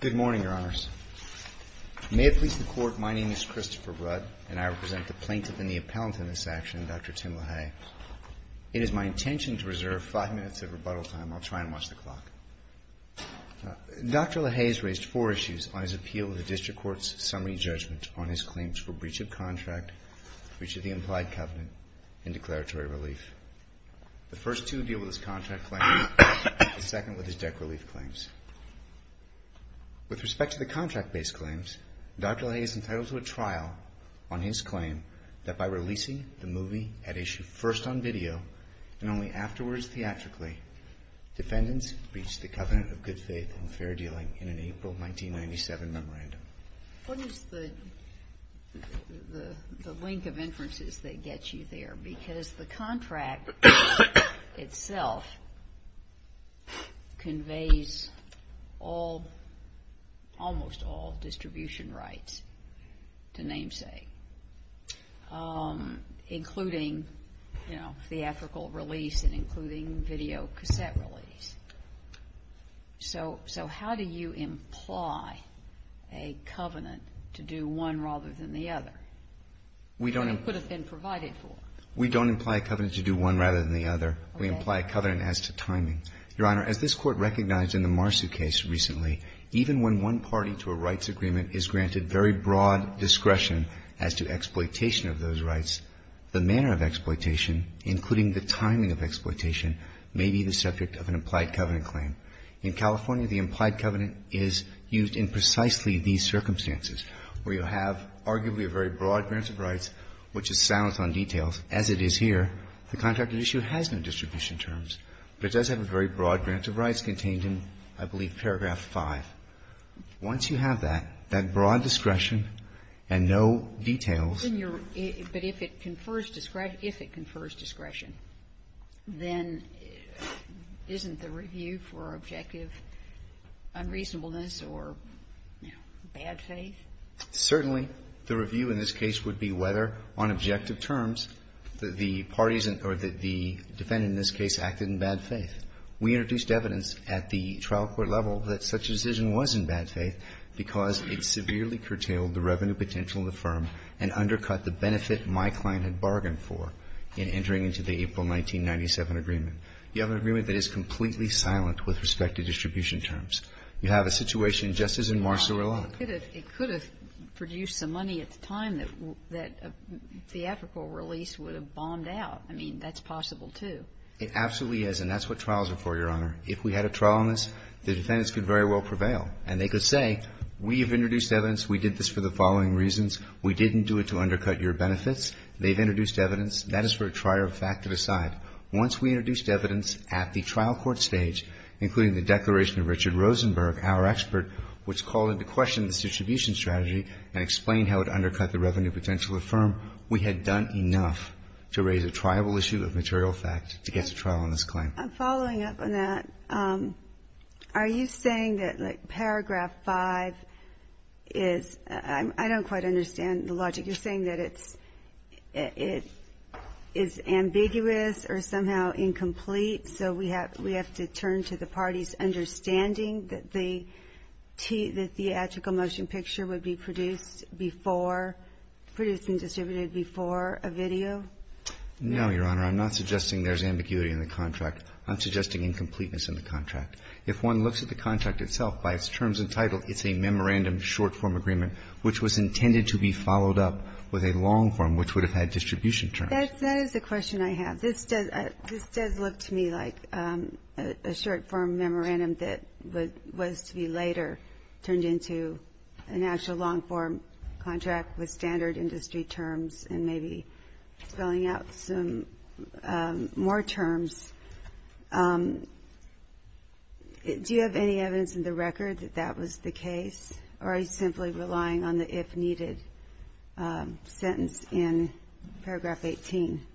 Good morning, Your Honors. May it please the Court, my name is Christopher Rudd, and I represent the plaintiff and the appellant in this action, Dr. Tim LaHaye. It is my intention to reserve five minutes of rebuttal time. I'll try and watch the clock. Dr. LaHaye has raised four issues on his appeal to the District Court's summary judgment on his claims for breach of contract, breach of the implied covenant, and declaratory relief. The first two deal with his contract claims, the second with his debt relief claims. With respect to the contract-based claims, Dr. LaHaye is entitled to a trial on his claim that by releasing the movie at issue first on video and only afterwards theatrically, defendants breached the covenant of good faith and fair dealing in an April 1997 memorandum. What is the link of inferences that gets you there? Because the contract itself conveys almost all distribution rights to namesake, including theatrical release and including videocassette release. So how do you imply a covenant to do one rather than the other? We don't imply a covenant to do one rather than the other. We imply a covenant as to timing. Your Honor, as this Court recognized in the Marsu case recently, even when one party to a rights agreement is granted very broad discretion as to exploitation of those may be the subject of an implied covenant claim. In California, the implied covenant is used in precisely these circumstances, where you have arguably a very broad branch of rights, which is silenced on details, as it is here. The contract at issue has no distribution terms, but it does have a very broad branch of rights contained in, I believe, paragraph 5. Once you have that, that broad discretion and no details. But if it confers discretion, if it confers discretion, then isn't the review for objective unreasonableness or, you know, bad faith? Certainly. The review in this case would be whether, on objective terms, the parties or the defendant in this case acted in bad faith. We introduced evidence at the trial court level that such a decision was in bad faith because it severely curtailed the revenue potential of the firm and undercut the benefit my client had bargained for in entering into the April 1997 agreement. You have an agreement that is completely silent with respect to distribution terms. You have a situation just as in Marsu or Locke. It could have produced some money at the time that a theatrical release would have bombed out. I mean, that's possible, too. It absolutely is, and that's what trials are for, Your Honor. If we had a trial on this, the defendants could very well prevail. And they could say, we have introduced evidence, we did this for the following reasons, we didn't do it to undercut your benefits, they've introduced evidence, that is for a trier of fact to decide. Once we introduced evidence at the trial court stage, including the declaration of Richard Rosenberg, our expert, which called into question this distribution strategy and explained how it undercut the revenue potential of the firm, we had done enough to raise a triable issue of material fact to get to trial on this claim. Following up on that, are you saying that, like, paragraph 5 is, I don't quite understand the logic. You're saying that it's ambiguous or somehow incomplete, so we have to turn to the parties understanding that the theatrical motion picture would be produced before, produced and distributed before a video? No, Your Honor. I'm not suggesting there's ambiguity in the contract. I'm suggesting incompleteness in the contract. If one looks at the contract itself, by its terms and title, it's a memorandum short-form agreement, which was intended to be followed up with a long-form, which would have had distribution terms. That is the question I have. This does look to me like a short-form memorandum that was to be later turned into an actual long-form contract with standard industry terms and maybe filling out some more terms. Do you have any evidence in the record that that was the case, or are you simply relying on the if-needed sentence in paragraph 18?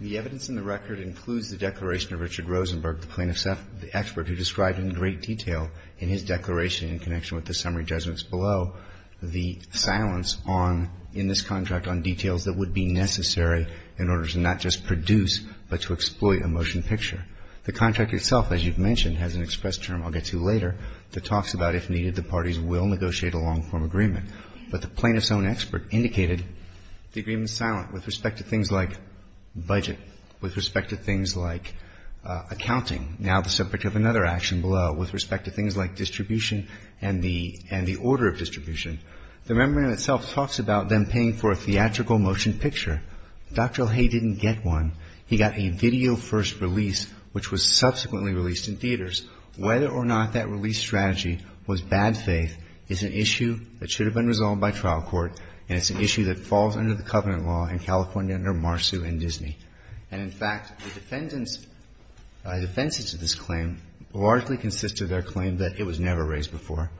The evidence in the record includes the declaration of Richard Rosenberg, the plaintiff's expert, who described in great detail in his declaration in connection with the summary judgments below the silence on, in this contract, on details that would be necessary in order to not just produce but to exploit a motion picture. The contract itself, as you've mentioned, has an express term, I'll get to later, that talks about if needed, the parties will negotiate a long-form agreement. But the plaintiff's own expert indicated the agreement is silent with respect to things like budget, with respect to things like accounting, now the subject of another action below, with respect to things like distribution and the order of distribution. The memorandum itself talks about them paying for a theatrical motion picture. Dr. LeHay didn't get one. He got a video-first release, which was subsequently released in theaters. Whether or not that release strategy was bad faith is an issue that should have been resolved by trial court, and it's an issue that falls under the covenant law in California under Marsau and Disney. And in fact, the defendants, the defenses to this claim largely consist of their claim that it was never raised before.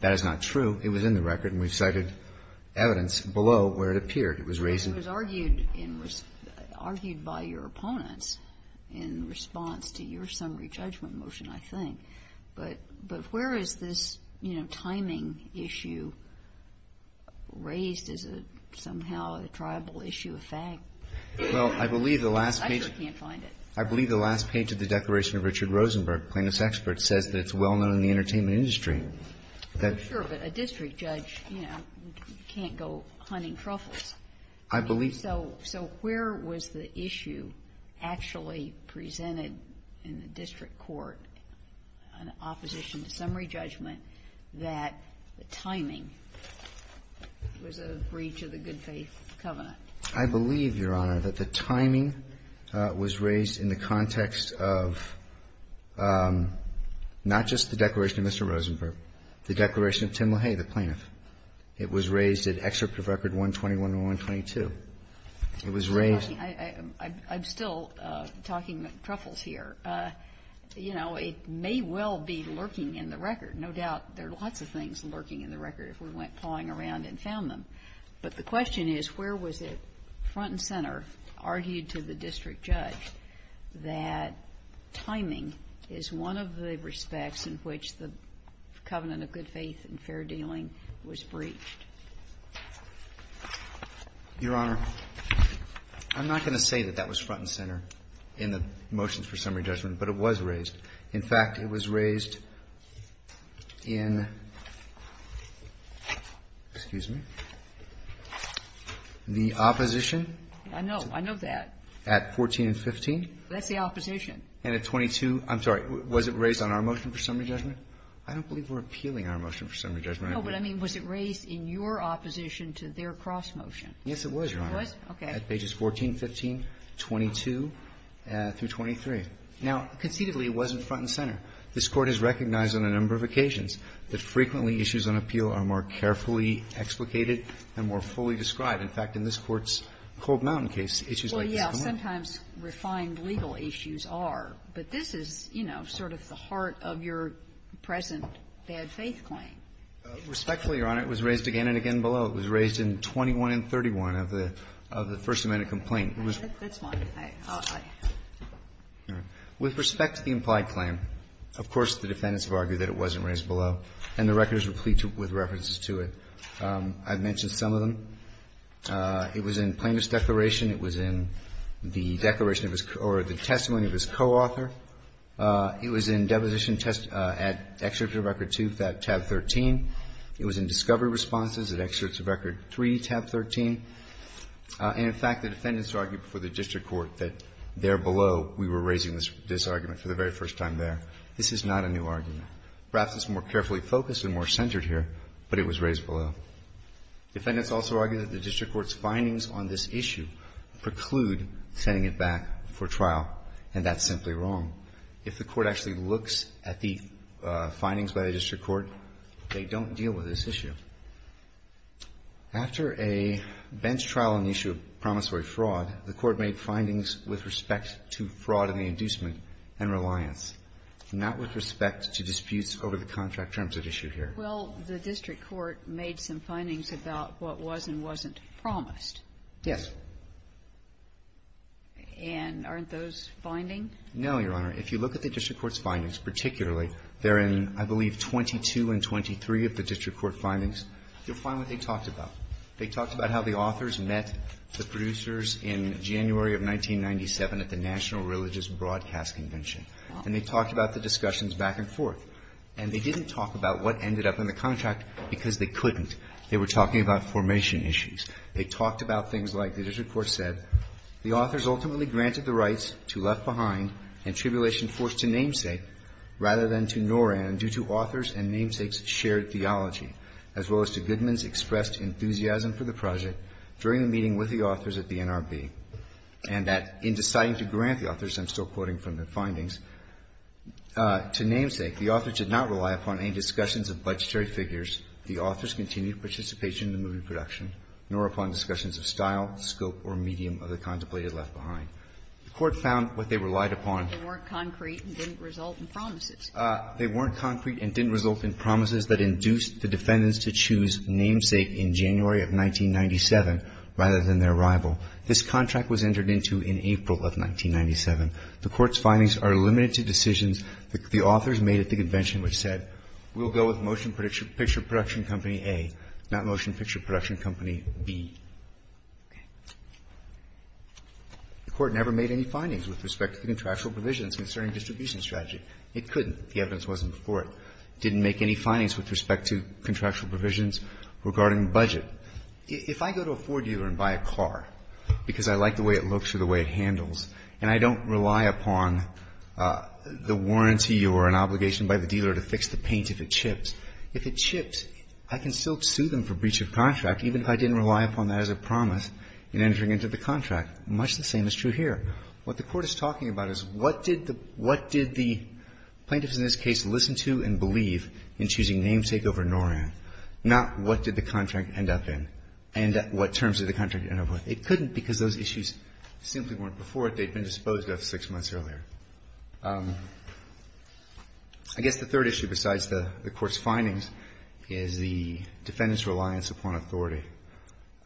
That is not true. It was in the record, and we've cited evidence below where it appeared. It was raised in the record. It was argued by your opponents in response to your summary judgment motion, I think. But where is this timing issue raised? Is it somehow a tribal issue of fact? Well, I believe the last page of the declaration of Richard Rosenberg, plaintiff's expert, says that it's well known in the entertainment industry. I'm sure, but a district judge, you know, can't go hunting truffles. I believe so. So where was the issue actually presented in the district court, an opposition to summary judgment, that the timing was a breach of the good faith covenant? I believe, Your Honor, that the timing was raised in the context of not just the Risenberg, the declaration of Tim LaHaye, the plaintiff. It was raised in excerpt of record 121 and 122. It was raised... I'm still talking truffles here. You know, it may well be lurking in the record. No doubt there are lots of things lurking in the record if we went plowing around and found them. But the question is, where was it, front and center, argued to the district judge, that timing is one of the respects in which the covenant of good faith and fair dealing was breached? Your Honor, I'm not going to say that that was front and center in the motions for summary judgment, but it was raised. In fact, it was raised in, excuse me, the opposition... I know. I know that. At 14 and 15? That's the opposition. And at 22? I'm sorry. Was it raised on our motion for summary judgment? I don't believe we're appealing our motion for summary judgment. No, but I mean, was it raised in your opposition to their cross-motion? Yes, it was, Your Honor. It was? Okay. At pages 14, 15, 22 through 23. Now, conceivably, it wasn't front and center. This Court has recognized on a number of occasions that frequently issues on appeal are more carefully explicated and more fully described. In fact, in this Court's Cope Mountain case, issues like this come up. Well, yes. Sometimes refined legal issues are. But this is, you know, sort of the heart of your present bad faith claim. Respectfully, Your Honor, it was raised again and again below. It was raised in 21 and 31 of the First Amendment complaint. That's fine. I'll add. With respect to the implied claim, of course, the defendants have argued that it wasn't raised below, and the record is replete with references to it. I've mentioned some of them. It was in Plaintiff's declaration. It was in the declaration of his or the testimony of his co-author. It was in deposition test at Excerpt of Record 2, Tab 13. It was in discovery responses at Excerpt of Record 3, Tab 13. And in fact, the defendants argued before the district court that there below, we were raising this argument for the very first time there. This is not a new argument. Perhaps it's more carefully focused and more centered here, but it was raised below. Defendants also argue that the district court's findings on this issue preclude sending it back for trial, and that's simply wrong. If the court actually looks at the findings by the district court, they don't deal with this issue. After a bench trial on the issue of promissory fraud, the Court made findings with respect to fraud in the inducement and reliance, not with respect to disputes over the contract terms at issue here. Well, the district court made some findings about what was and wasn't promised. Yes. And aren't those findings? No, Your Honor. If you look at the district court's findings, particularly there in, I believe, 22 and 23 of the district court findings, you'll find what they talked about. They talked about how the authors met the producers in January of 1997 at the National Religious Broadcast Convention. And they talked about the discussions back and forth. And they didn't talk about what ended up in the contract because they couldn't. They were talking about formation issues. They talked about things like, the district court said, The authors ultimately granted the rights to Left Behind and Tribulation Force to Namesake rather than to NORAN due to authors and Namesake's shared theology, as well as to Goodman's expressed enthusiasm for the project during the meeting with the authors at the NRB, and that in deciding to grant the authors, I'm still The authors did not rely upon any discussions of budgetary figures. The authors continued participation in the movie production, nor upon discussions of style, scope, or medium of the contemplated Left Behind. The Court found what they relied upon. They weren't concrete and didn't result in promises. They weren't concrete and didn't result in promises that induced the defendants to choose Namesake in January of 1997 rather than their rival. This contract was entered into in April of 1997. The Court's findings are limited to decisions that the authors made at the convention, which said, We'll go with Motion Picture Production Company A, not Motion Picture Production Company B. The Court never made any findings with respect to the contractual provisions concerning distribution strategy. It couldn't. The evidence wasn't before it. It didn't make any findings with respect to contractual provisions regarding budget. If I go to a Ford dealer and buy a car because I like the way it looks or the way it handles and I don't rely upon the warranty or an obligation by the dealer to fix the paint if it chips, if it chips, I can still sue them for breach of contract even if I didn't rely upon that as a promise in entering into the contract. Much the same is true here. What the Court is talking about is what did the plaintiffs in this case listen to and believe in choosing Namesake over Noran, not what did the contract end up in and what terms did the contract end up with. They couldn't because those issues simply weren't before it. They'd been disposed of six months earlier. I guess the third issue besides the Court's findings is the defendants' reliance upon authority.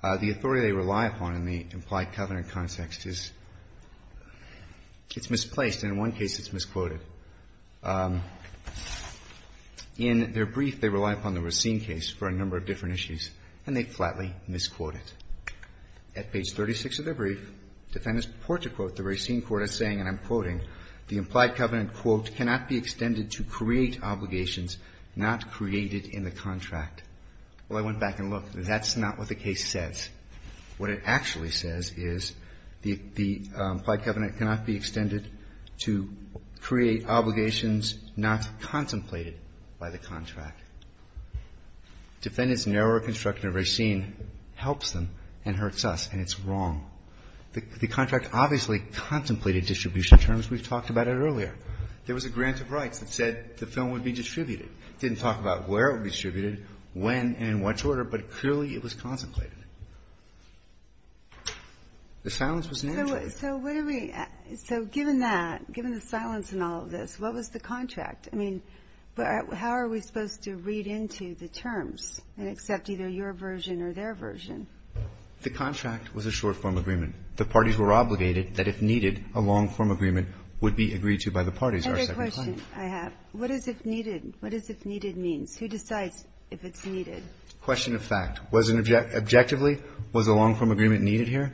The authority they rely upon in the implied covenant context is, it's misplaced and in one case it's misquoted. In their brief, they rely upon the Racine case for a number of different issues and they flatly misquote it. At page 36 of their brief, defendants purport to quote the Racine court as saying, and I'm quoting, the implied covenant, quote, cannot be extended to create obligations not created in the contract. Well, I went back and looked. That's not what the case says. What it actually says is the implied covenant cannot be extended to create obligations not contemplated by the contract. Defendants narrow a construction of Racine, helps them, and hurts us, and it's wrong. The contract obviously contemplated distribution terms. We've talked about it earlier. There was a grant of rights that said the film would be distributed. It didn't talk about where it would be distributed, when, and in what order, but clearly it was contemplated. The silence was managed. So what are we, so given that, given the silence in all of this, what was the contract? I mean, how are we supposed to read into the terms and accept either your version or their version? The contract was a short-form agreement. The parties were obligated that if needed, a long-form agreement would be agreed to by the parties. Another question I have. What is if needed? What is if needed means? Who decides if it's needed? Question of fact. Objectively, was a long-form agreement needed here?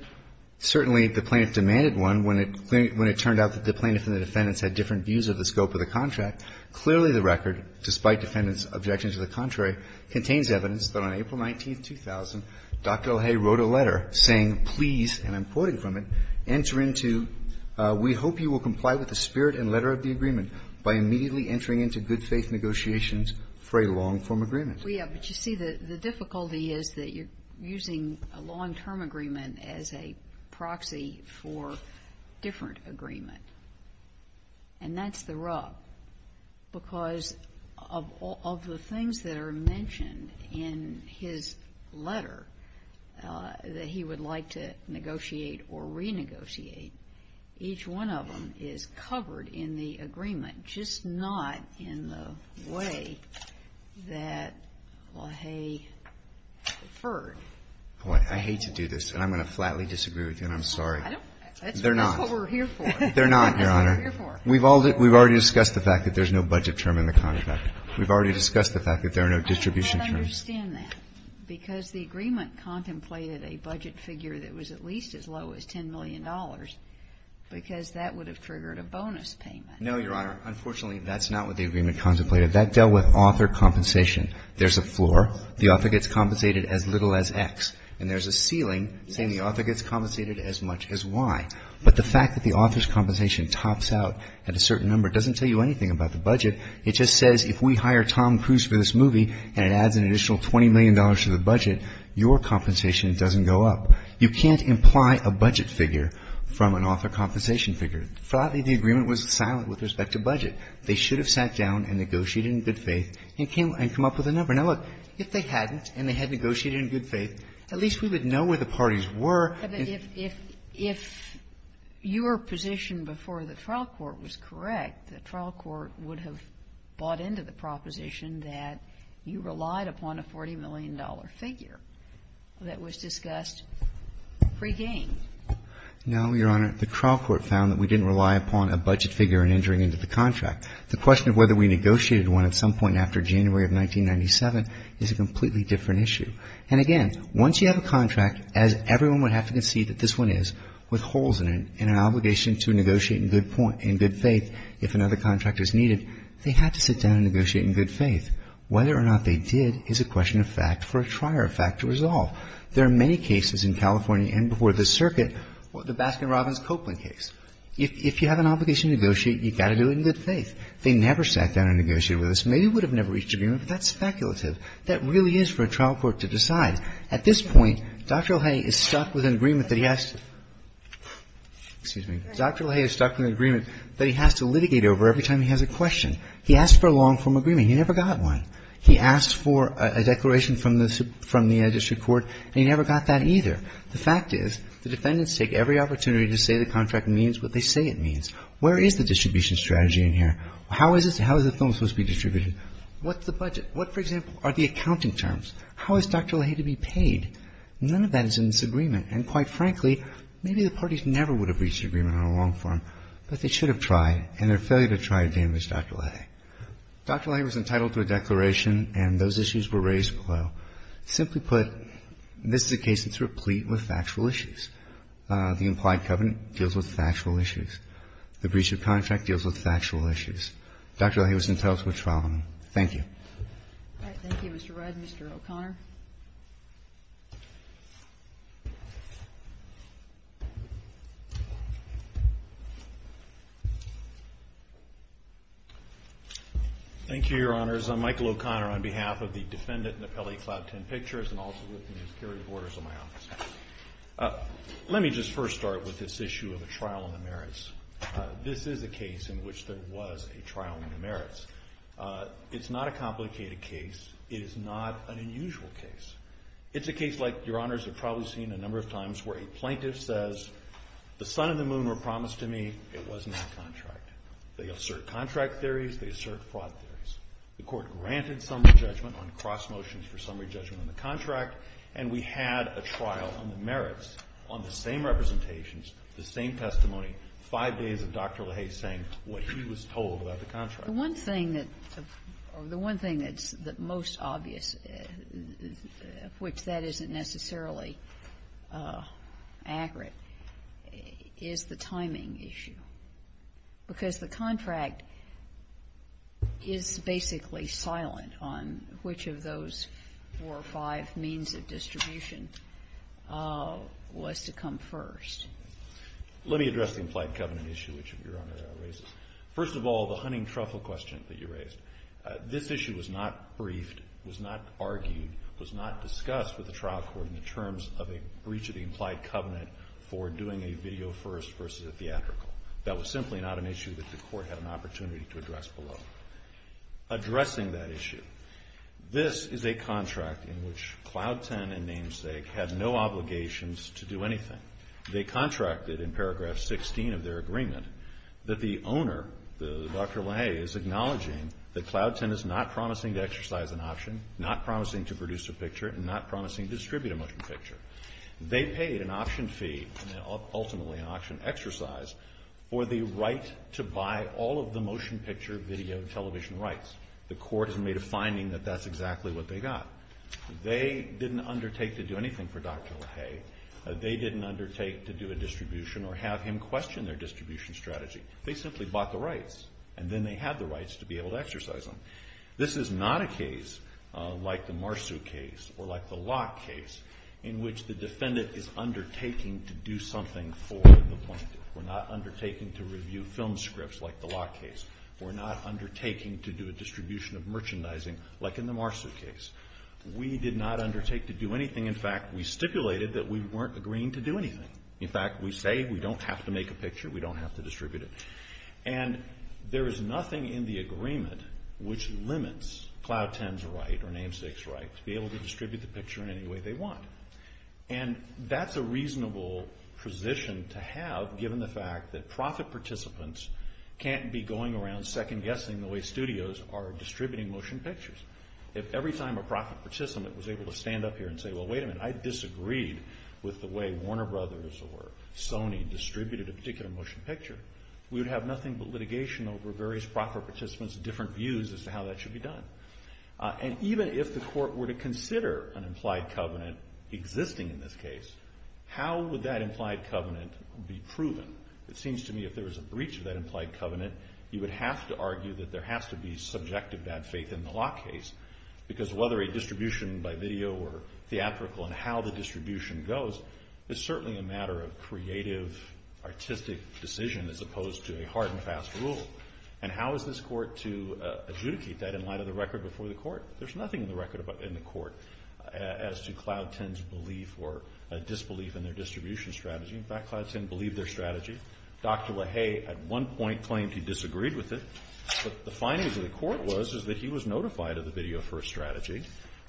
Certainly, the plaintiff demanded one when it turned out that the plaintiff and the defendants had different views of the scope of the contract. Clearly, the record, despite defendants' objections to the contrary, contains evidence that on April 19, 2000, Dr. LaHaye wrote a letter saying, please, and I'm quoting from it, enter into, we hope you will comply with the spirit and letter of the agreement by immediately entering into good faith negotiations for a long-form agreement. We have, but you see, the difficulty is that you're using a long-term agreement as a proxy for different agreement. And that's the rub, because of the things that are mentioned in his letter that he would like to negotiate or renegotiate, each one of them is covered in the agreement, just not in the way that LaHaye deferred. I hate to do this, and I'm going to flatly disagree with you, and I'm sorry. They're not. That's what we're here for. They're not, Your Honor. We've already discussed the fact that there's no budget term in the contract. We've already discussed the fact that there are no distribution terms. I don't understand that, because the agreement contemplated a budget figure that was at least as low as $10 million, because that would have triggered a bonus payment. No, Your Honor. Unfortunately, that's not what the agreement contemplated. That dealt with author compensation. There's a floor. The author gets compensated as little as X. And there's a ceiling saying the author gets compensated as much as Y. But the fact that the author's compensation tops out at a certain number doesn't tell you anything about the budget. It just says if we hire Tom Cruise for this movie and it adds an additional $20 million to the budget, your compensation doesn't go up. You can't imply a budget figure from an author compensation figure. Flatly, the agreement was silent with respect to budget. They should have sat down and negotiated in good faith and come up with a number. Now, look, if they hadn't and they had negotiated in good faith, at least we would know where the parties were. If your position before the trial court was correct, the trial court would have bought into the proposition that you relied upon a $40 million figure that was discussed pre-game. No, Your Honor. The trial court found that we didn't rely upon a budget figure in entering into the contract. The question of whether we negotiated one at some point after January of 1997 is a completely different issue. And again, once you have a contract, as everyone would have to concede that this one is, with holes in it and an obligation to negotiate in good faith if another contract is needed, they had to sit down and negotiate in good faith. Whether or not they did is a question of fact for a trier of fact to resolve. There are many cases in California and before the circuit, the Baskin-Robbins-Copeland case. If you have an obligation to negotiate, you've got to do it in good faith. They never sat down and negotiated with us. Maybe we would have never reached an agreement, but that's speculative. That really is for a trial court to decide. At this point, Dr. LaHaye is stuck with an agreement that he has to, excuse me, Dr. LaHaye is stuck with an agreement that he has to litigate over every time he has a question. He asked for a long-form agreement. He never got one. He asked for a declaration from the district court, and he never got that either. The fact is, the defendants take every opportunity to say the contract means what they say it means. Where is the distribution strategy in here? How is the film supposed to be distributed? What's the budget? What, for example, are the accounting terms? How is Dr. LaHaye to be paid? None of that is in this agreement. And quite frankly, maybe the parties never would have reached an agreement on a long-form, but they should have tried, and their failure to try damaged Dr. LaHaye. Dr. LaHaye was entitled to a declaration, and those issues were raised below. Simply put, this is a case that's replete with factual issues. The implied covenant deals with factual issues. The breach of contract deals with factual issues. Dr. LaHaye was entitled to a trial. Thank you. All right. Thank you, Mr. Rudd. Mr. O'Connor. Thank you, Your Honors. I'm Michael O'Connor on behalf of the defendant in the Pele-Claude 10 pictures, and also with the security boarders of my office. Let me just first start with this issue of a trial on the merits. This is a case in which there was a trial on the merits. It's not a complicated case. It is not an unusual case. It's a case like, Your Honors have probably seen a number of times, where a plaintiff says, the sun and the moon were promised to me, it was not contract. They assert contract theories, they assert fraud theories. The court granted summary judgment on cross motions for summary judgment on the contract, and we had a trial on the merits on the same representations, the same testimony, five days of Dr. LaHaye saying what he was told about the contract. The one thing that's most obvious, which that isn't necessarily accurate, is the timing issue. Because the contract is basically silent on which of those four or five means of distribution was to come first. Let me address the implied covenant issue, which Your Honor raises. First of all, the hunting truffle question that you raised, this issue was not briefed, was not argued, was not discussed with the trial court in terms of a breach of the implied covenant for doing a video first versus a theatrical. That was simply not an issue that the court had an opportunity to address below. Addressing that issue, this is a contract in which Cloud Ten and Namesake had no obligations to do anything. They contracted in paragraph 16 of their agreement that the owner, Dr. LaHaye, is acknowledging that Cloud Ten is not promising to exercise an option, not promising to produce a picture, and not promising to distribute a motion picture. They paid an option fee, ultimately an option exercise, for the right to buy all of the motion picture video television rights. The court has made a finding that that's exactly what they got. They didn't undertake to do anything for Dr. LaHaye. They didn't undertake to do a distribution or have him question their distribution strategy. They simply bought the rights, and then they had the rights to be able to exercise them. This is not a case like the Marsu case or like the Locke case in which the defendant is undertaking to do something for the plaintiff. We're not undertaking to review film scripts like the Locke case. We're not undertaking to do a distribution of merchandising like in the Marsu case. We did not undertake to do anything. In fact, we stipulated that we weren't agreeing to do anything. In fact, we say we don't have to make a picture. We don't have to distribute it. And there is nothing in the agreement which limits Cloud Ten's right or Namesake's right to be able to distribute the picture in any way they want. And that's a reasonable position to have given the fact that profit participants can't be going around second-guessing the way studios are distributing motion pictures. If every time a profit participant was able to stand up here and say, well, wait a minute, I disagreed with the way Warner Brothers or Sony distributed a particular motion picture, we would have nothing but litigation over various profit participants' different views as to how that should be done. And even if the court were to consider an implied covenant existing in this case, how would that implied covenant be proven? It seems to me if there was a breach of that implied covenant, you would have to argue that there has to be subjective bad faith in the Locke case. Because whether a distribution by video or theatrical and how the distribution goes is certainly a matter of creative, artistic decision as opposed to a hard and fast rule. And how is this court to adjudicate that in light of the record before the court? There's nothing in the record in the court as to Cloud Ten's belief or disbelief in their distribution strategy. In fact, Cloud Ten believed their strategy. Dr. Lahaye at one point claimed he disagreed with it. But the findings of the court was is that he was notified of the video first strategy,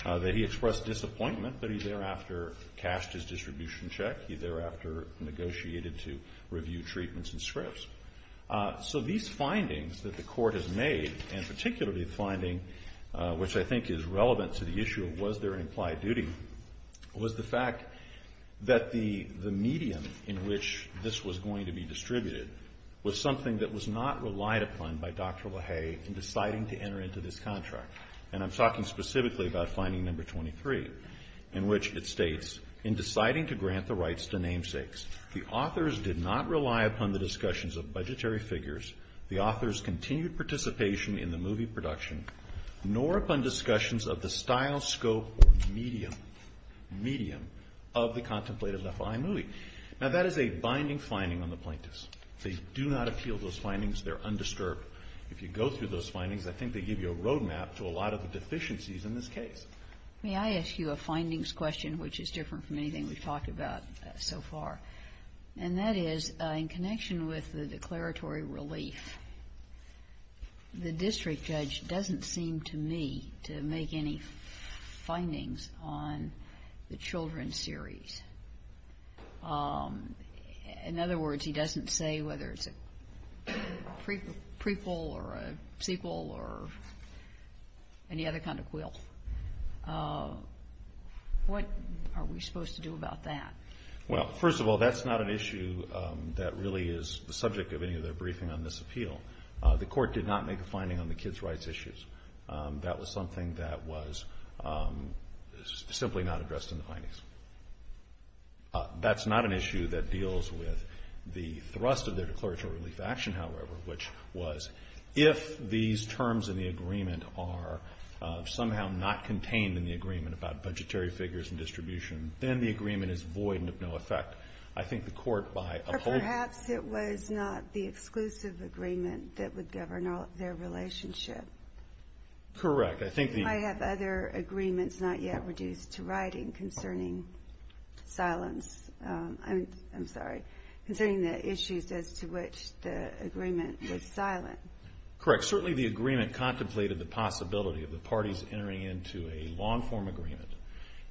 that he expressed disappointment, but he thereafter cast his distribution check. He thereafter negotiated to review treatments and scripts. So these findings that the court has made and particularly the finding, which I think is relevant to the issue of was there an implied duty, was the fact that the medium in which this was going to be distributed was something that was not relied upon by Dr. Lahaye in deciding to enter into this contract. And I'm talking specifically about finding number 23, in which it states, in deciding to grant the rights to namesakes, the authors did not rely upon the discussions of budgetary figures, the authors continued participation in the movie production, nor upon discussions of the style, scope, or medium of the contemplated FLI movie. Now that is a binding finding on the plaintiffs. They do not appeal those findings. They're undisturbed. If you go through those findings, I think they give you a roadmap to a lot of the deficiencies in this case. May I ask you a findings question, which is different from anything we've talked about so far? And that is, in connection with the declaratory relief, the district judge doesn't seem to me to make any findings on the children series. In other words, he doesn't say whether it's a prequel or a sequel or any other kind of quill. What are we supposed to do about that? Well, first of all, that's not an issue that really is the subject of any of their briefing on this appeal. The court did not make a finding on the kids' rights issues. That was something that was simply not addressed in the findings. That's not an issue that deals with the thrust of their declaratory relief action, however, which was, if these terms in the agreement are somehow not contained in the agreement about budgetary figures and distribution, then the agreement is void and of no effect. I think the court, by upholding the terms in the agreement, that would govern their relationship. Correct. I have other agreements not yet reduced to writing concerning silence. I'm sorry, concerning the issues as to which the agreement was silent. Correct. Certainly the agreement contemplated the possibility of the parties entering into a long-form agreement,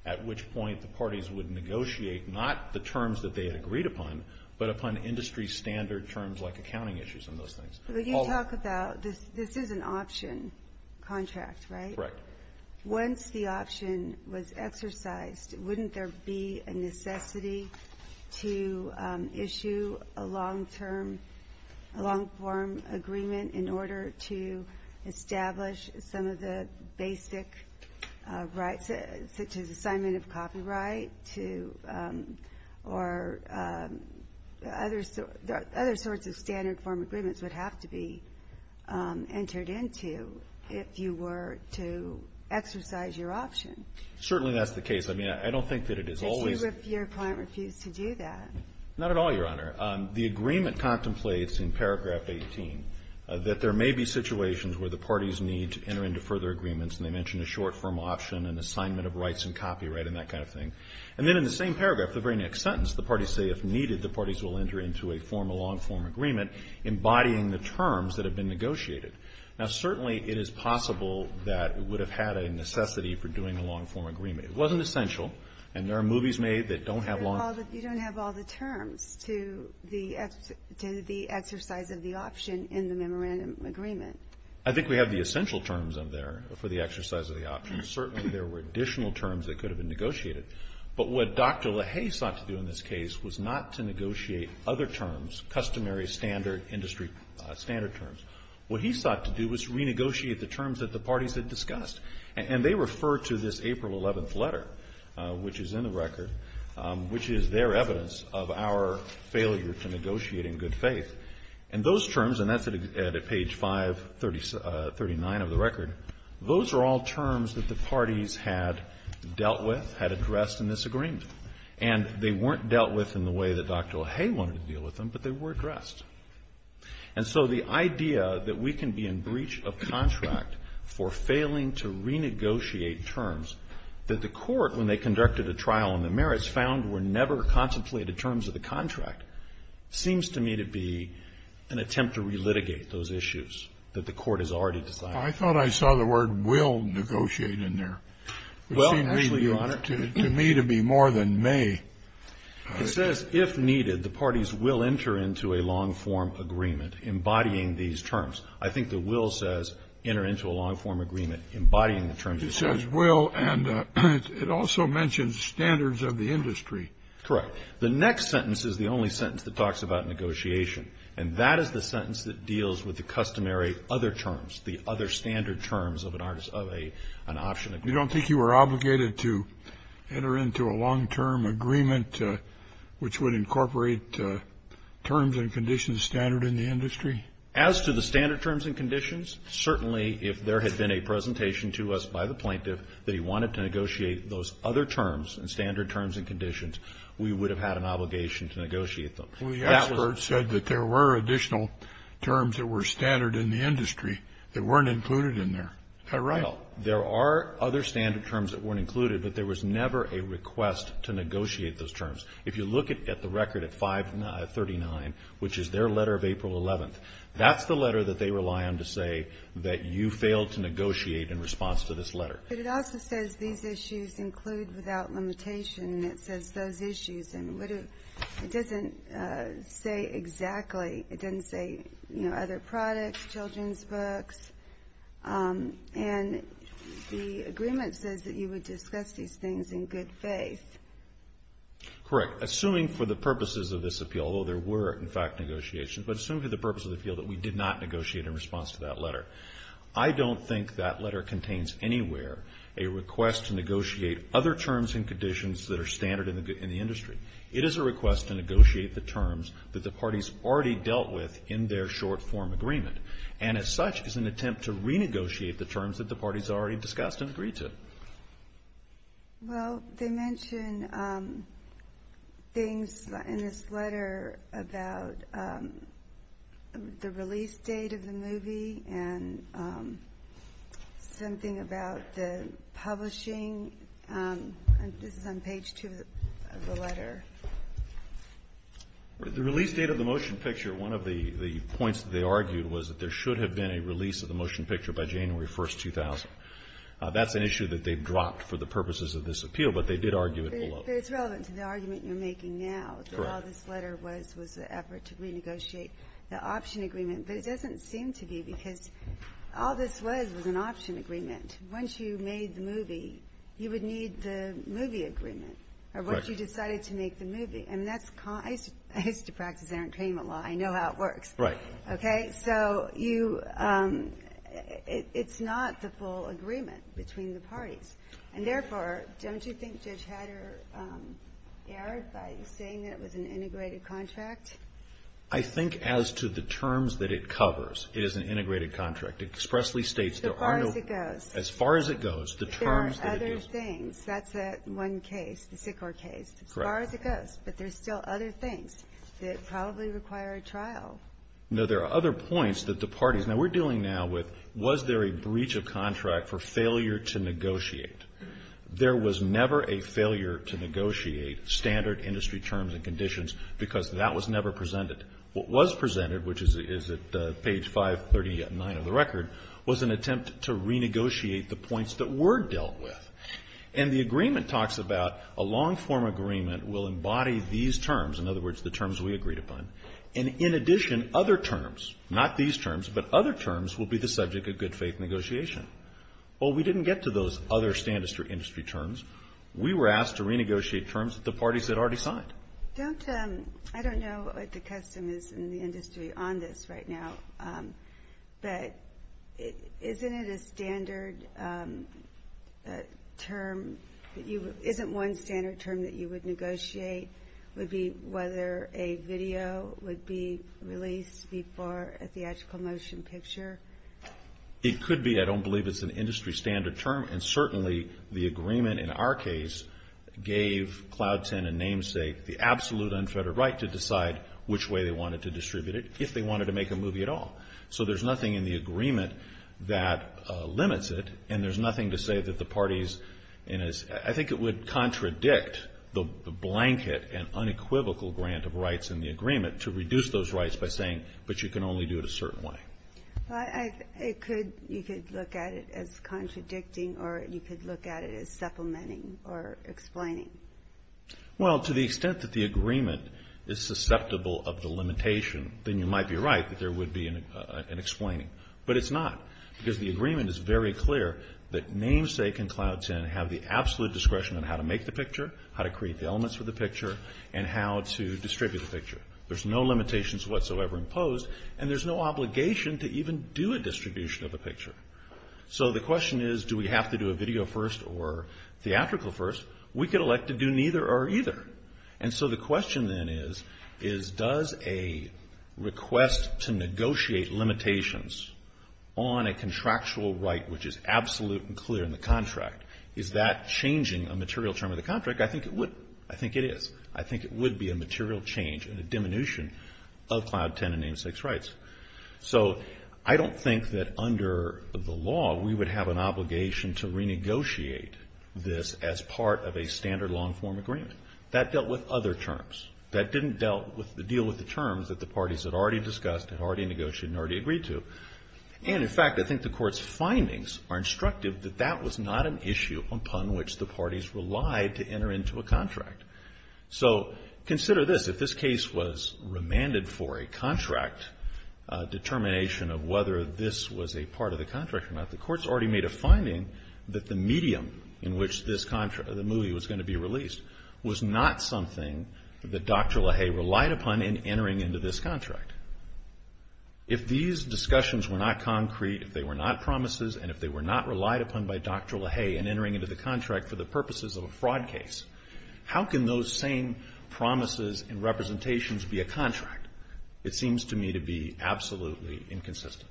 at which point the parties would negotiate not the terms that they had agreed upon, but upon industry standard terms like accounting issues and those things. But you talk about, this is an option contract, right? Right. Once the option was exercised, wouldn't there be a necessity to issue a long-term, a long-form agreement in order to establish some of the basic rights, such as assignment of copyright to, or other sorts of standard form agreements would have to be entered into if you were to exercise your option? Certainly that's the case. I mean, I don't think that it is always the case. But what if your client refused to do that? Not at all, Your Honor. The agreement contemplates in paragraph 18 that there may be situations where the parties need to enter into further agreements, and they mention a short-form option and assignment of rights and copyright and that kind of thing. And then in the same paragraph, the very next sentence, the parties say, if needed, the parties will enter into a formal long-form agreement embodying the terms that have been negotiated. Now, certainly it is possible that it would have had a necessity for doing a long-form agreement. It wasn't essential. And there are movies made that don't have long terms. You don't have all the terms to the exercise of the option in the memorandum agreement. I think we have the essential terms of there for the exercise of the option. Certainly there were additional terms that could have been negotiated. But what Dr. LaHaye sought to do in this case was not to negotiate other terms, customary, standard, industry standard terms. What he sought to do was renegotiate the terms that the parties had discussed. And they refer to this April 11th letter, which is in the record, which is their evidence of our failure to negotiate in good faith. And those terms, and that's at page 539 of the record, those are all terms that the parties had dealt with, had addressed in this agreement. And they weren't dealt with in the way that Dr. LaHaye wanted to deal with them, but they were addressed. And so the idea that we can be in breach of contract for failing to renegotiate terms that the Court, when they conducted a trial on the merits, found were never contemplated terms of the contract, seems to me to be an attempt to relitigate those issues that the Court has already decided. I thought I saw the word will negotiate in there. Well, actually, Your Honor, to me it would be more than may. It says, if needed, the parties will enter into a long-form agreement embodying these terms. I think the will says enter into a long-form agreement embodying the terms of the contract. It says will, and it also mentions standards of the industry. Correct. The next sentence is the only sentence that talks about negotiation, and that is the standard terms of an option agreement. You don't think you were obligated to enter into a long-term agreement which would incorporate terms and conditions standard in the industry? As to the standard terms and conditions, certainly if there had been a presentation to us by the plaintiff that he wanted to negotiate those other terms and standard terms and conditions, we would have had an obligation to negotiate them. Well, the expert said that there were additional terms that were standard in the contract that were included in there. Is that right? No. There are other standard terms that weren't included, but there was never a request to negotiate those terms. If you look at the record at 539, which is their letter of April 11th, that's the letter that they rely on to say that you failed to negotiate in response to this letter. But it also says these issues include without limitation, and it says those issues, and it doesn't say exactly. It doesn't say, you know, other products, children's books, and the agreement says that you would discuss these things in good faith. Correct. Assuming for the purposes of this appeal, although there were, in fact, negotiations, but assuming for the purpose of the appeal that we did not negotiate in response to that letter, I don't think that letter contains anywhere a request to negotiate other terms and conditions that are standard in the industry. It is a request to negotiate the terms that the parties already dealt with in their short-form agreement. And as such, it's an attempt to renegotiate the terms that the parties already discussed and agreed to. Well, they mention things in this letter about the release date of the movie and something about the publishing. This is on page 2 of the letter. The release date of the motion picture, one of the points that they argued was that there should have been a release of the motion picture by January 1st, 2000. That's an issue that they've dropped for the purposes of this appeal, but they did argue it below. But it's relevant to the argument you're making now that all this letter was was an effort to renegotiate the option agreement. But it doesn't seem to be, because all this was was an option agreement. Once you made the movie, you would need the movie agreement, or once you decided to make the movie. I mean, that's con – I used to practice entertainment law. I know how it works. Right. Okay? So you – it's not the full agreement between the parties. And therefore, don't you think Judge Hatter erred by saying that it was an integrated contract? I think as to the terms that it covers, it is an integrated contract. It expressly states there are no – As far as it goes. As far as it goes, the terms that it gives – There are other things. That's one case, the Sikor case. Correct. As far as it goes. But there's still other things that probably require a trial. No, there are other points that the parties – now, we're dealing now with was there a breach of contract for failure to negotiate? There was never a failure to negotiate standard industry terms and conditions because that was never presented. What was presented, which is at page 539 of the record, was an attempt to renegotiate the points that were dealt with. And the agreement talks about a long-form agreement will embody these terms, in other words, the terms we agreed upon, and in addition, other terms, not these terms, but other terms will be the subject of good faith negotiation. Well, we didn't get to those other standard industry terms. We were asked to renegotiate terms that the parties had already signed. Don't – I don't know what the custom is in the industry on this right now, but isn't it a standard term – isn't one standard term that you would negotiate would be whether a video would be released before a theatrical motion picture? It could be. I don't believe it's an industry standard term. And certainly, the agreement in our case gave Cloud 10 and Namesake the absolute unfettered right to decide which way they wanted to distribute it if they wanted to make a movie at all. So there's nothing in the agreement that limits it, and there's nothing to say that the parties – I think it would contradict the blanket and unequivocal grant of rights in the agreement to reduce those rights by saying, but you can only do it a certain way. Well, I – it could – you could look at it as contradicting, or you could look at it as supplementing or explaining. Well, to the extent that the agreement is susceptible of the limitation, then you might be right that there would be an explaining. But it's not, because the agreement is very clear that Namesake and Cloud 10 have the absolute discretion on how to make the picture, how to create the elements for the picture, and how to distribute the picture. There's no limitations whatsoever imposed, and there's no obligation to even do a distribution of a picture. So the question is, do we have to do a video first or theatrical first? We could elect to do neither or either. And so the question then is, is – does a request to negotiate limitations on a contractual right which is absolute and clear in the contract, is that changing a material term of the contract? I think it would – I think it is. I think it would be a material change and a diminution of Cloud 10 and Namesake's rights. So I don't think that under the law we would have an obligation to renegotiate this as part of a standard long-form agreement. That dealt with other terms. That didn't deal with the terms that the parties had already discussed, had already negotiated, and already agreed to. And in fact, I think the Court's findings are instructive that that was not an issue upon which the parties relied to enter into a contract. So consider this. If this case was remanded for a contract, a determination of whether this was a part of the contract or not, the Court's already made a finding that the medium in which this contract – the movie was going to be released was not something that Dr. LaHaye relied upon in entering into this contract. If these discussions were not concrete, if they were not promises, and if they were not relied upon by Dr. LaHaye in entering into the contract for the purposes of a fraud case, how can those same promises and representations be a contract? It seems to me to be absolutely inconsistent.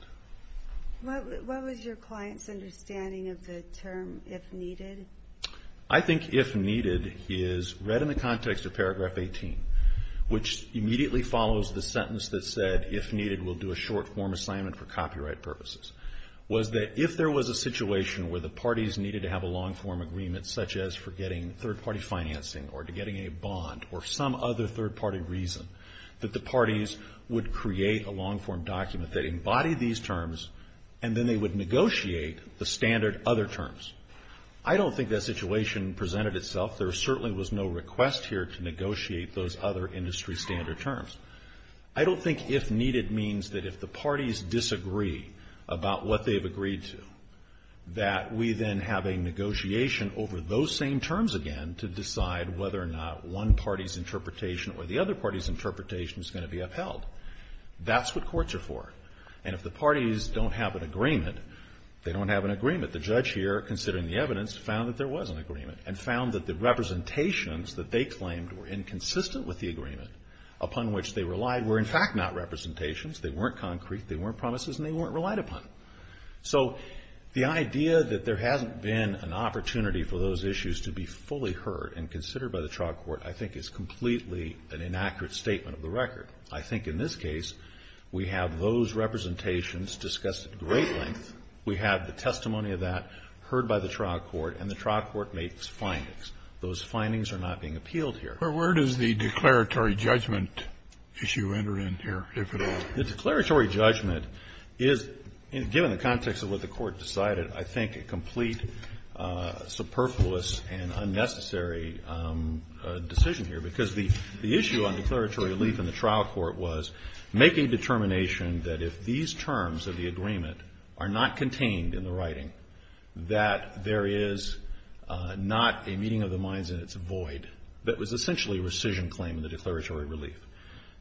What was your client's understanding of the term, if needed? I think if needed is read in the context of Paragraph 18, which immediately follows the sentence that said, if needed, we'll do a short-form assignment for copyright purposes. Was that if there was a situation where the parties needed to have a long-form agreement, such as for getting third-party financing or to getting a bond or some other third-party reason, that the parties would create a long-form document that embodied these terms and then they would negotiate the standard other terms. I don't think that situation presented itself. There certainly was no request here to negotiate those other industry standard terms. I don't think if needed means that if the parties disagree about what they've agreed to, that we then have a negotiation over those same terms again to decide whether or not one party's interpretation or the other party's interpretation is going to be upheld. That's what courts are for. And if the parties don't have an agreement, they don't have an agreement. The judge here, considering the evidence, found that there was an agreement and found that the representations that they claimed were inconsistent with the agreement upon which they relied were in fact not representations. They weren't concrete, they weren't promises, and they weren't relied upon. So the idea that there hasn't been an opportunity for those issues to be fully heard and considered by the trial court, I think, is completely an inaccurate statement of the record. I think in this case, we have those representations discussed at great length. We have the testimony of that heard by the trial court, and the trial court makes findings. Those findings are not being appealed here. Kennedy, but where does the declaratory judgment issue enter in here, if at all? The declaratory judgment is, given the context of what the court decided, I think a complete superfluous and unnecessary decision here. Because the issue on declaratory relief in the trial court was making determination that if these terms of the agreement are not contained in the writing, that there is not a meeting of the minds in its void. That was essentially a rescission claim in the declaratory relief.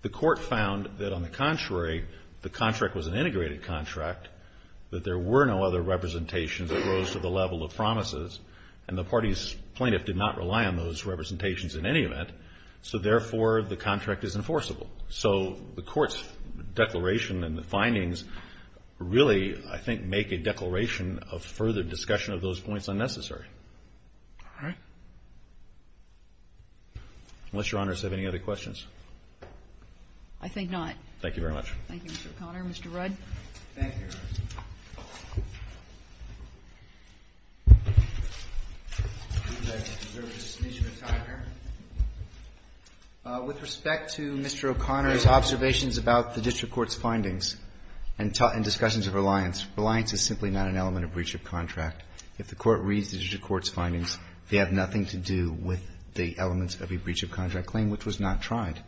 The court found that, on the contrary, the contract was an integrated contract, that there were no other representations that rose to the level of promises, and the party's plaintiff did not rely on those representations in any event. So therefore, the contract is enforceable. So the court's declaration and the findings really, I think, make a declaration of further discussion of those points unnecessary. All right. Unless Your Honors have any other questions. I think not. Thank you very much. Thank you, Mr. O'Connor. Mr. Rudd. Thank you, Your Honors. I think I deserve a dismission of time here. With respect to Mr. O'Connor's observations about the district court's findings and discussions of reliance, reliance is simply not an element of breach of contract. If the court reads the district court's findings, they have nothing to do with the elements of a breach of contract claim, which was not tried.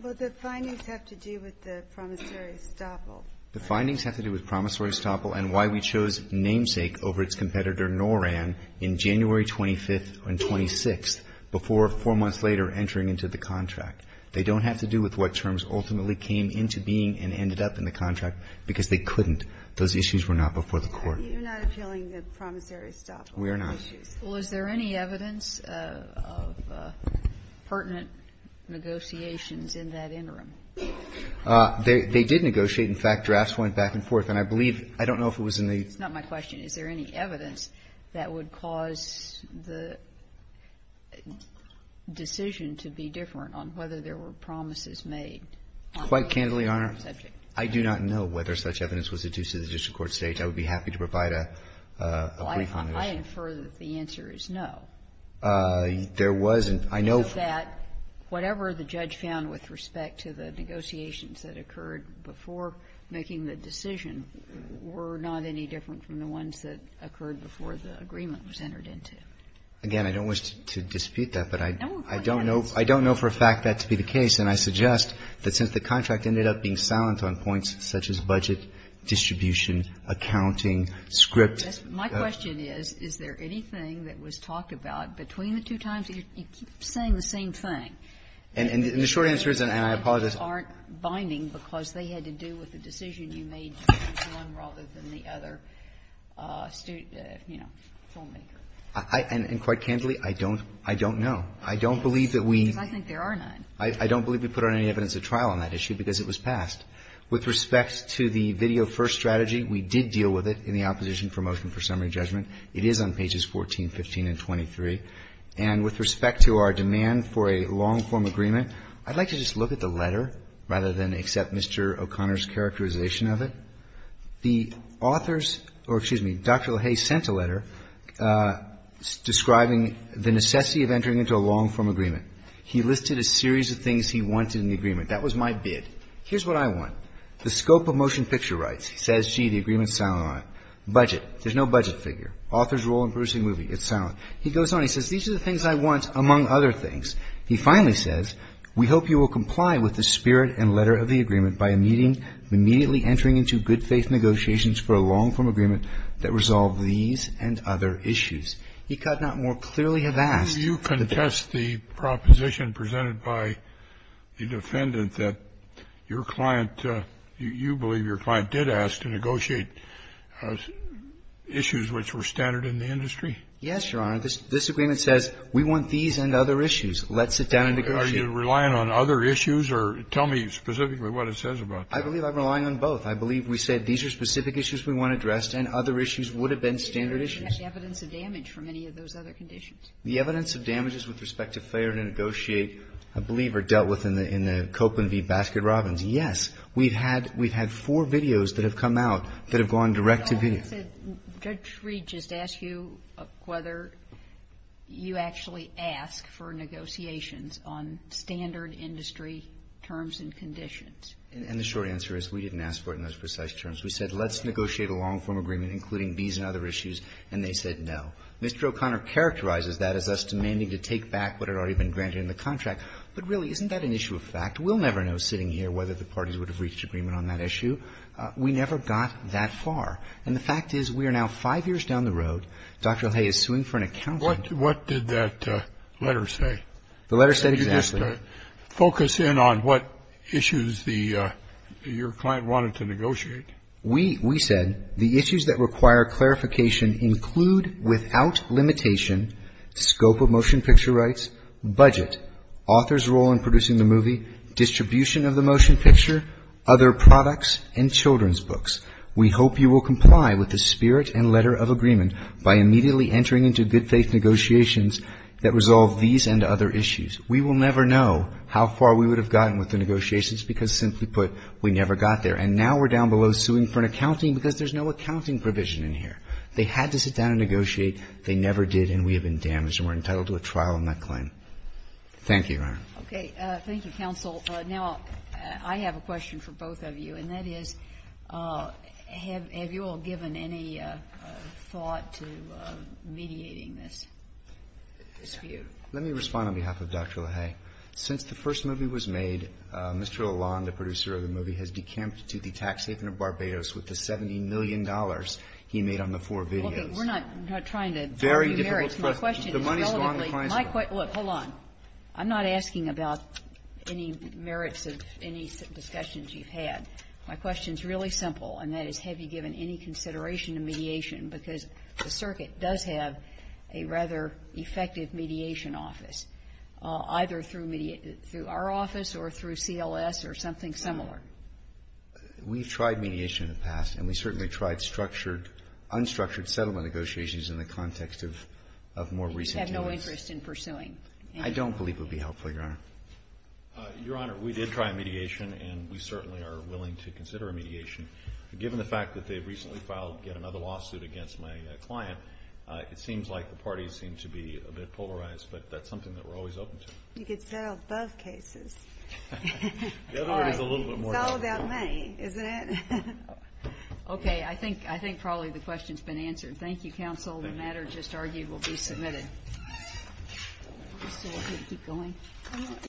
Well, the findings have to do with the promissory estoppel. The findings have to do with promissory estoppel and why we chose namesake over its competitor, Noran, in January 25th and 26th, before four months later entering into the contract. They don't have to do with what terms ultimately came into being and ended up in the contract, because they couldn't. Those issues were not before the court. You're not appealing the promissory estoppel issues. We are not. Well, is there any evidence of pertinent negotiations in that interim? They did negotiate. In fact, drafts went back and forth. And I believe – I don't know if it was in the – It's not my question. Is there any evidence that would cause the decision to be different on whether there were promises made on the subject? Quite candidly, Your Honor, I do not know whether such evidence was adduced to the district court stage. I would be happy to provide a brief on that issue. Well, I infer that the answer is no. There wasn't. I know that whatever the judge found with respect to the negotiations that occurred before making the decision were not any different from the ones that occurred before the agreement was entered into. Again, I don't wish to dispute that, but I don't know for a fact that to be the case. And I suggest that since the contract ended up being silent on points such as budget distribution, accounting, script. My question is, is there anything that was talked about between the two times? You keep saying the same thing. And the short answer is, and I apologize. And the two things aren't binding because they had to do with the decision you made to choose one rather than the other, you know, filmmaker. And quite candidly, I don't know. I don't believe that we – Because I think there are none. I don't believe we put out any evidence at trial on that issue because it was passed. With respect to the video first strategy, we did deal with it in the opposition for motion for summary judgment. It is on pages 14, 15, and 23. And with respect to our demand for a long-form agreement, I'd like to just look at the letter rather than accept Mr. O'Connor's characterization of it. The authors – or, excuse me, Dr. LaHaye sent a letter describing the necessity of entering into a long-form agreement. He listed a series of things he wanted in the agreement. That was my bid. Here's what I want. The scope of motion picture rights. He says, gee, the agreement's silent on it. Budget. There's no budget figure. Author's role in producing a movie. It's silent. He goes on. He says, these are the things I want, among other things. He finally says, we hope you will comply with the spirit and letter of the agreement by immediately entering into good-faith negotiations for a long-form agreement that resolve these and other issues. He could not more clearly have asked – The proposition presented by the defendant that your client, you believe your client did ask to negotiate issues which were standard in the industry? Yes, Your Honor. This agreement says, we want these and other issues. Let's sit down and negotiate. Are you relying on other issues? Or tell me specifically what it says about that. I believe I'm relying on both. I believe we said these are specific issues we want addressed and other issues would have been standard issues. Evidence of damage from any of those other conditions. The evidence of damages with respect to failure to negotiate, I believe, are dealt with in the Copeland v. Baskin-Robbins. Yes, we've had four videos that have come out that have gone direct to video. Judge Reed just asked you whether you actually ask for negotiations on standard industry terms and conditions. And the short answer is we didn't ask for it in those precise terms. We said, let's negotiate a long-form agreement including these and other issues, and they said no. Mr. O'Connor characterizes that as us demanding to take back what had already been granted in the contract. But really, isn't that an issue of fact? We'll never know sitting here whether the parties would have reached agreement on that issue. We never got that far. And the fact is, we are now five years down the road. Dr. O'Haye is suing for an accountant. What did that letter say? The letter said exactly. Did you just focus in on what issues your client wanted to negotiate? We said the issues that require clarification include without limitation scope of motion picture rights, budget, author's role in producing the movie, distribution of the motion picture, other products, and children's books. We hope you will comply with the spirit and letter of agreement by immediately entering into good faith negotiations that resolve these and other issues. We will never know how far we would have gotten with the negotiations because simply put, we never got there. And now we're down below suing for an accounting because there's no accounting provision in here. They had to sit down and negotiate. They never did. And we have been damaged. And we're entitled to a trial on that claim. Thank you, Your Honor. Okay. Thank you, counsel. Now, I have a question for both of you. And that is, have you all given any thought to mediating this dispute? Let me respond on behalf of Dr. O'Haye. Since the first movie was made, Mr. Lalonde, the producer of the movie, has decamped to the tax haven of Barbados with the $70 million he made on the four videos. Well, we're not trying to argue merits. My question is relatively my question. Look, hold on. I'm not asking about any merits of any discussions you've had. My question is really simple, and that is, have you given any consideration to mediation because the circuit does have a rather effective mediation office, either through our office or through CLS or something similar? We've tried mediation in the past, and we certainly tried unstructured settlement negotiations in the context of more recent events. You just have no interest in pursuing? I don't believe it would be helpful, Your Honor. Your Honor, we did try mediation, and we certainly are willing to consider a mediation. Given the fact that they've recently filed yet another lawsuit against my client, it seems like the parties seem to be a bit polarized. But that's something that we're always open to. You could settle both cases. The other one is a little bit more complicated. It's all about money, isn't it? OK, I think probably the question's been answered. Thank you, counsel. The matter just argued will be submitted.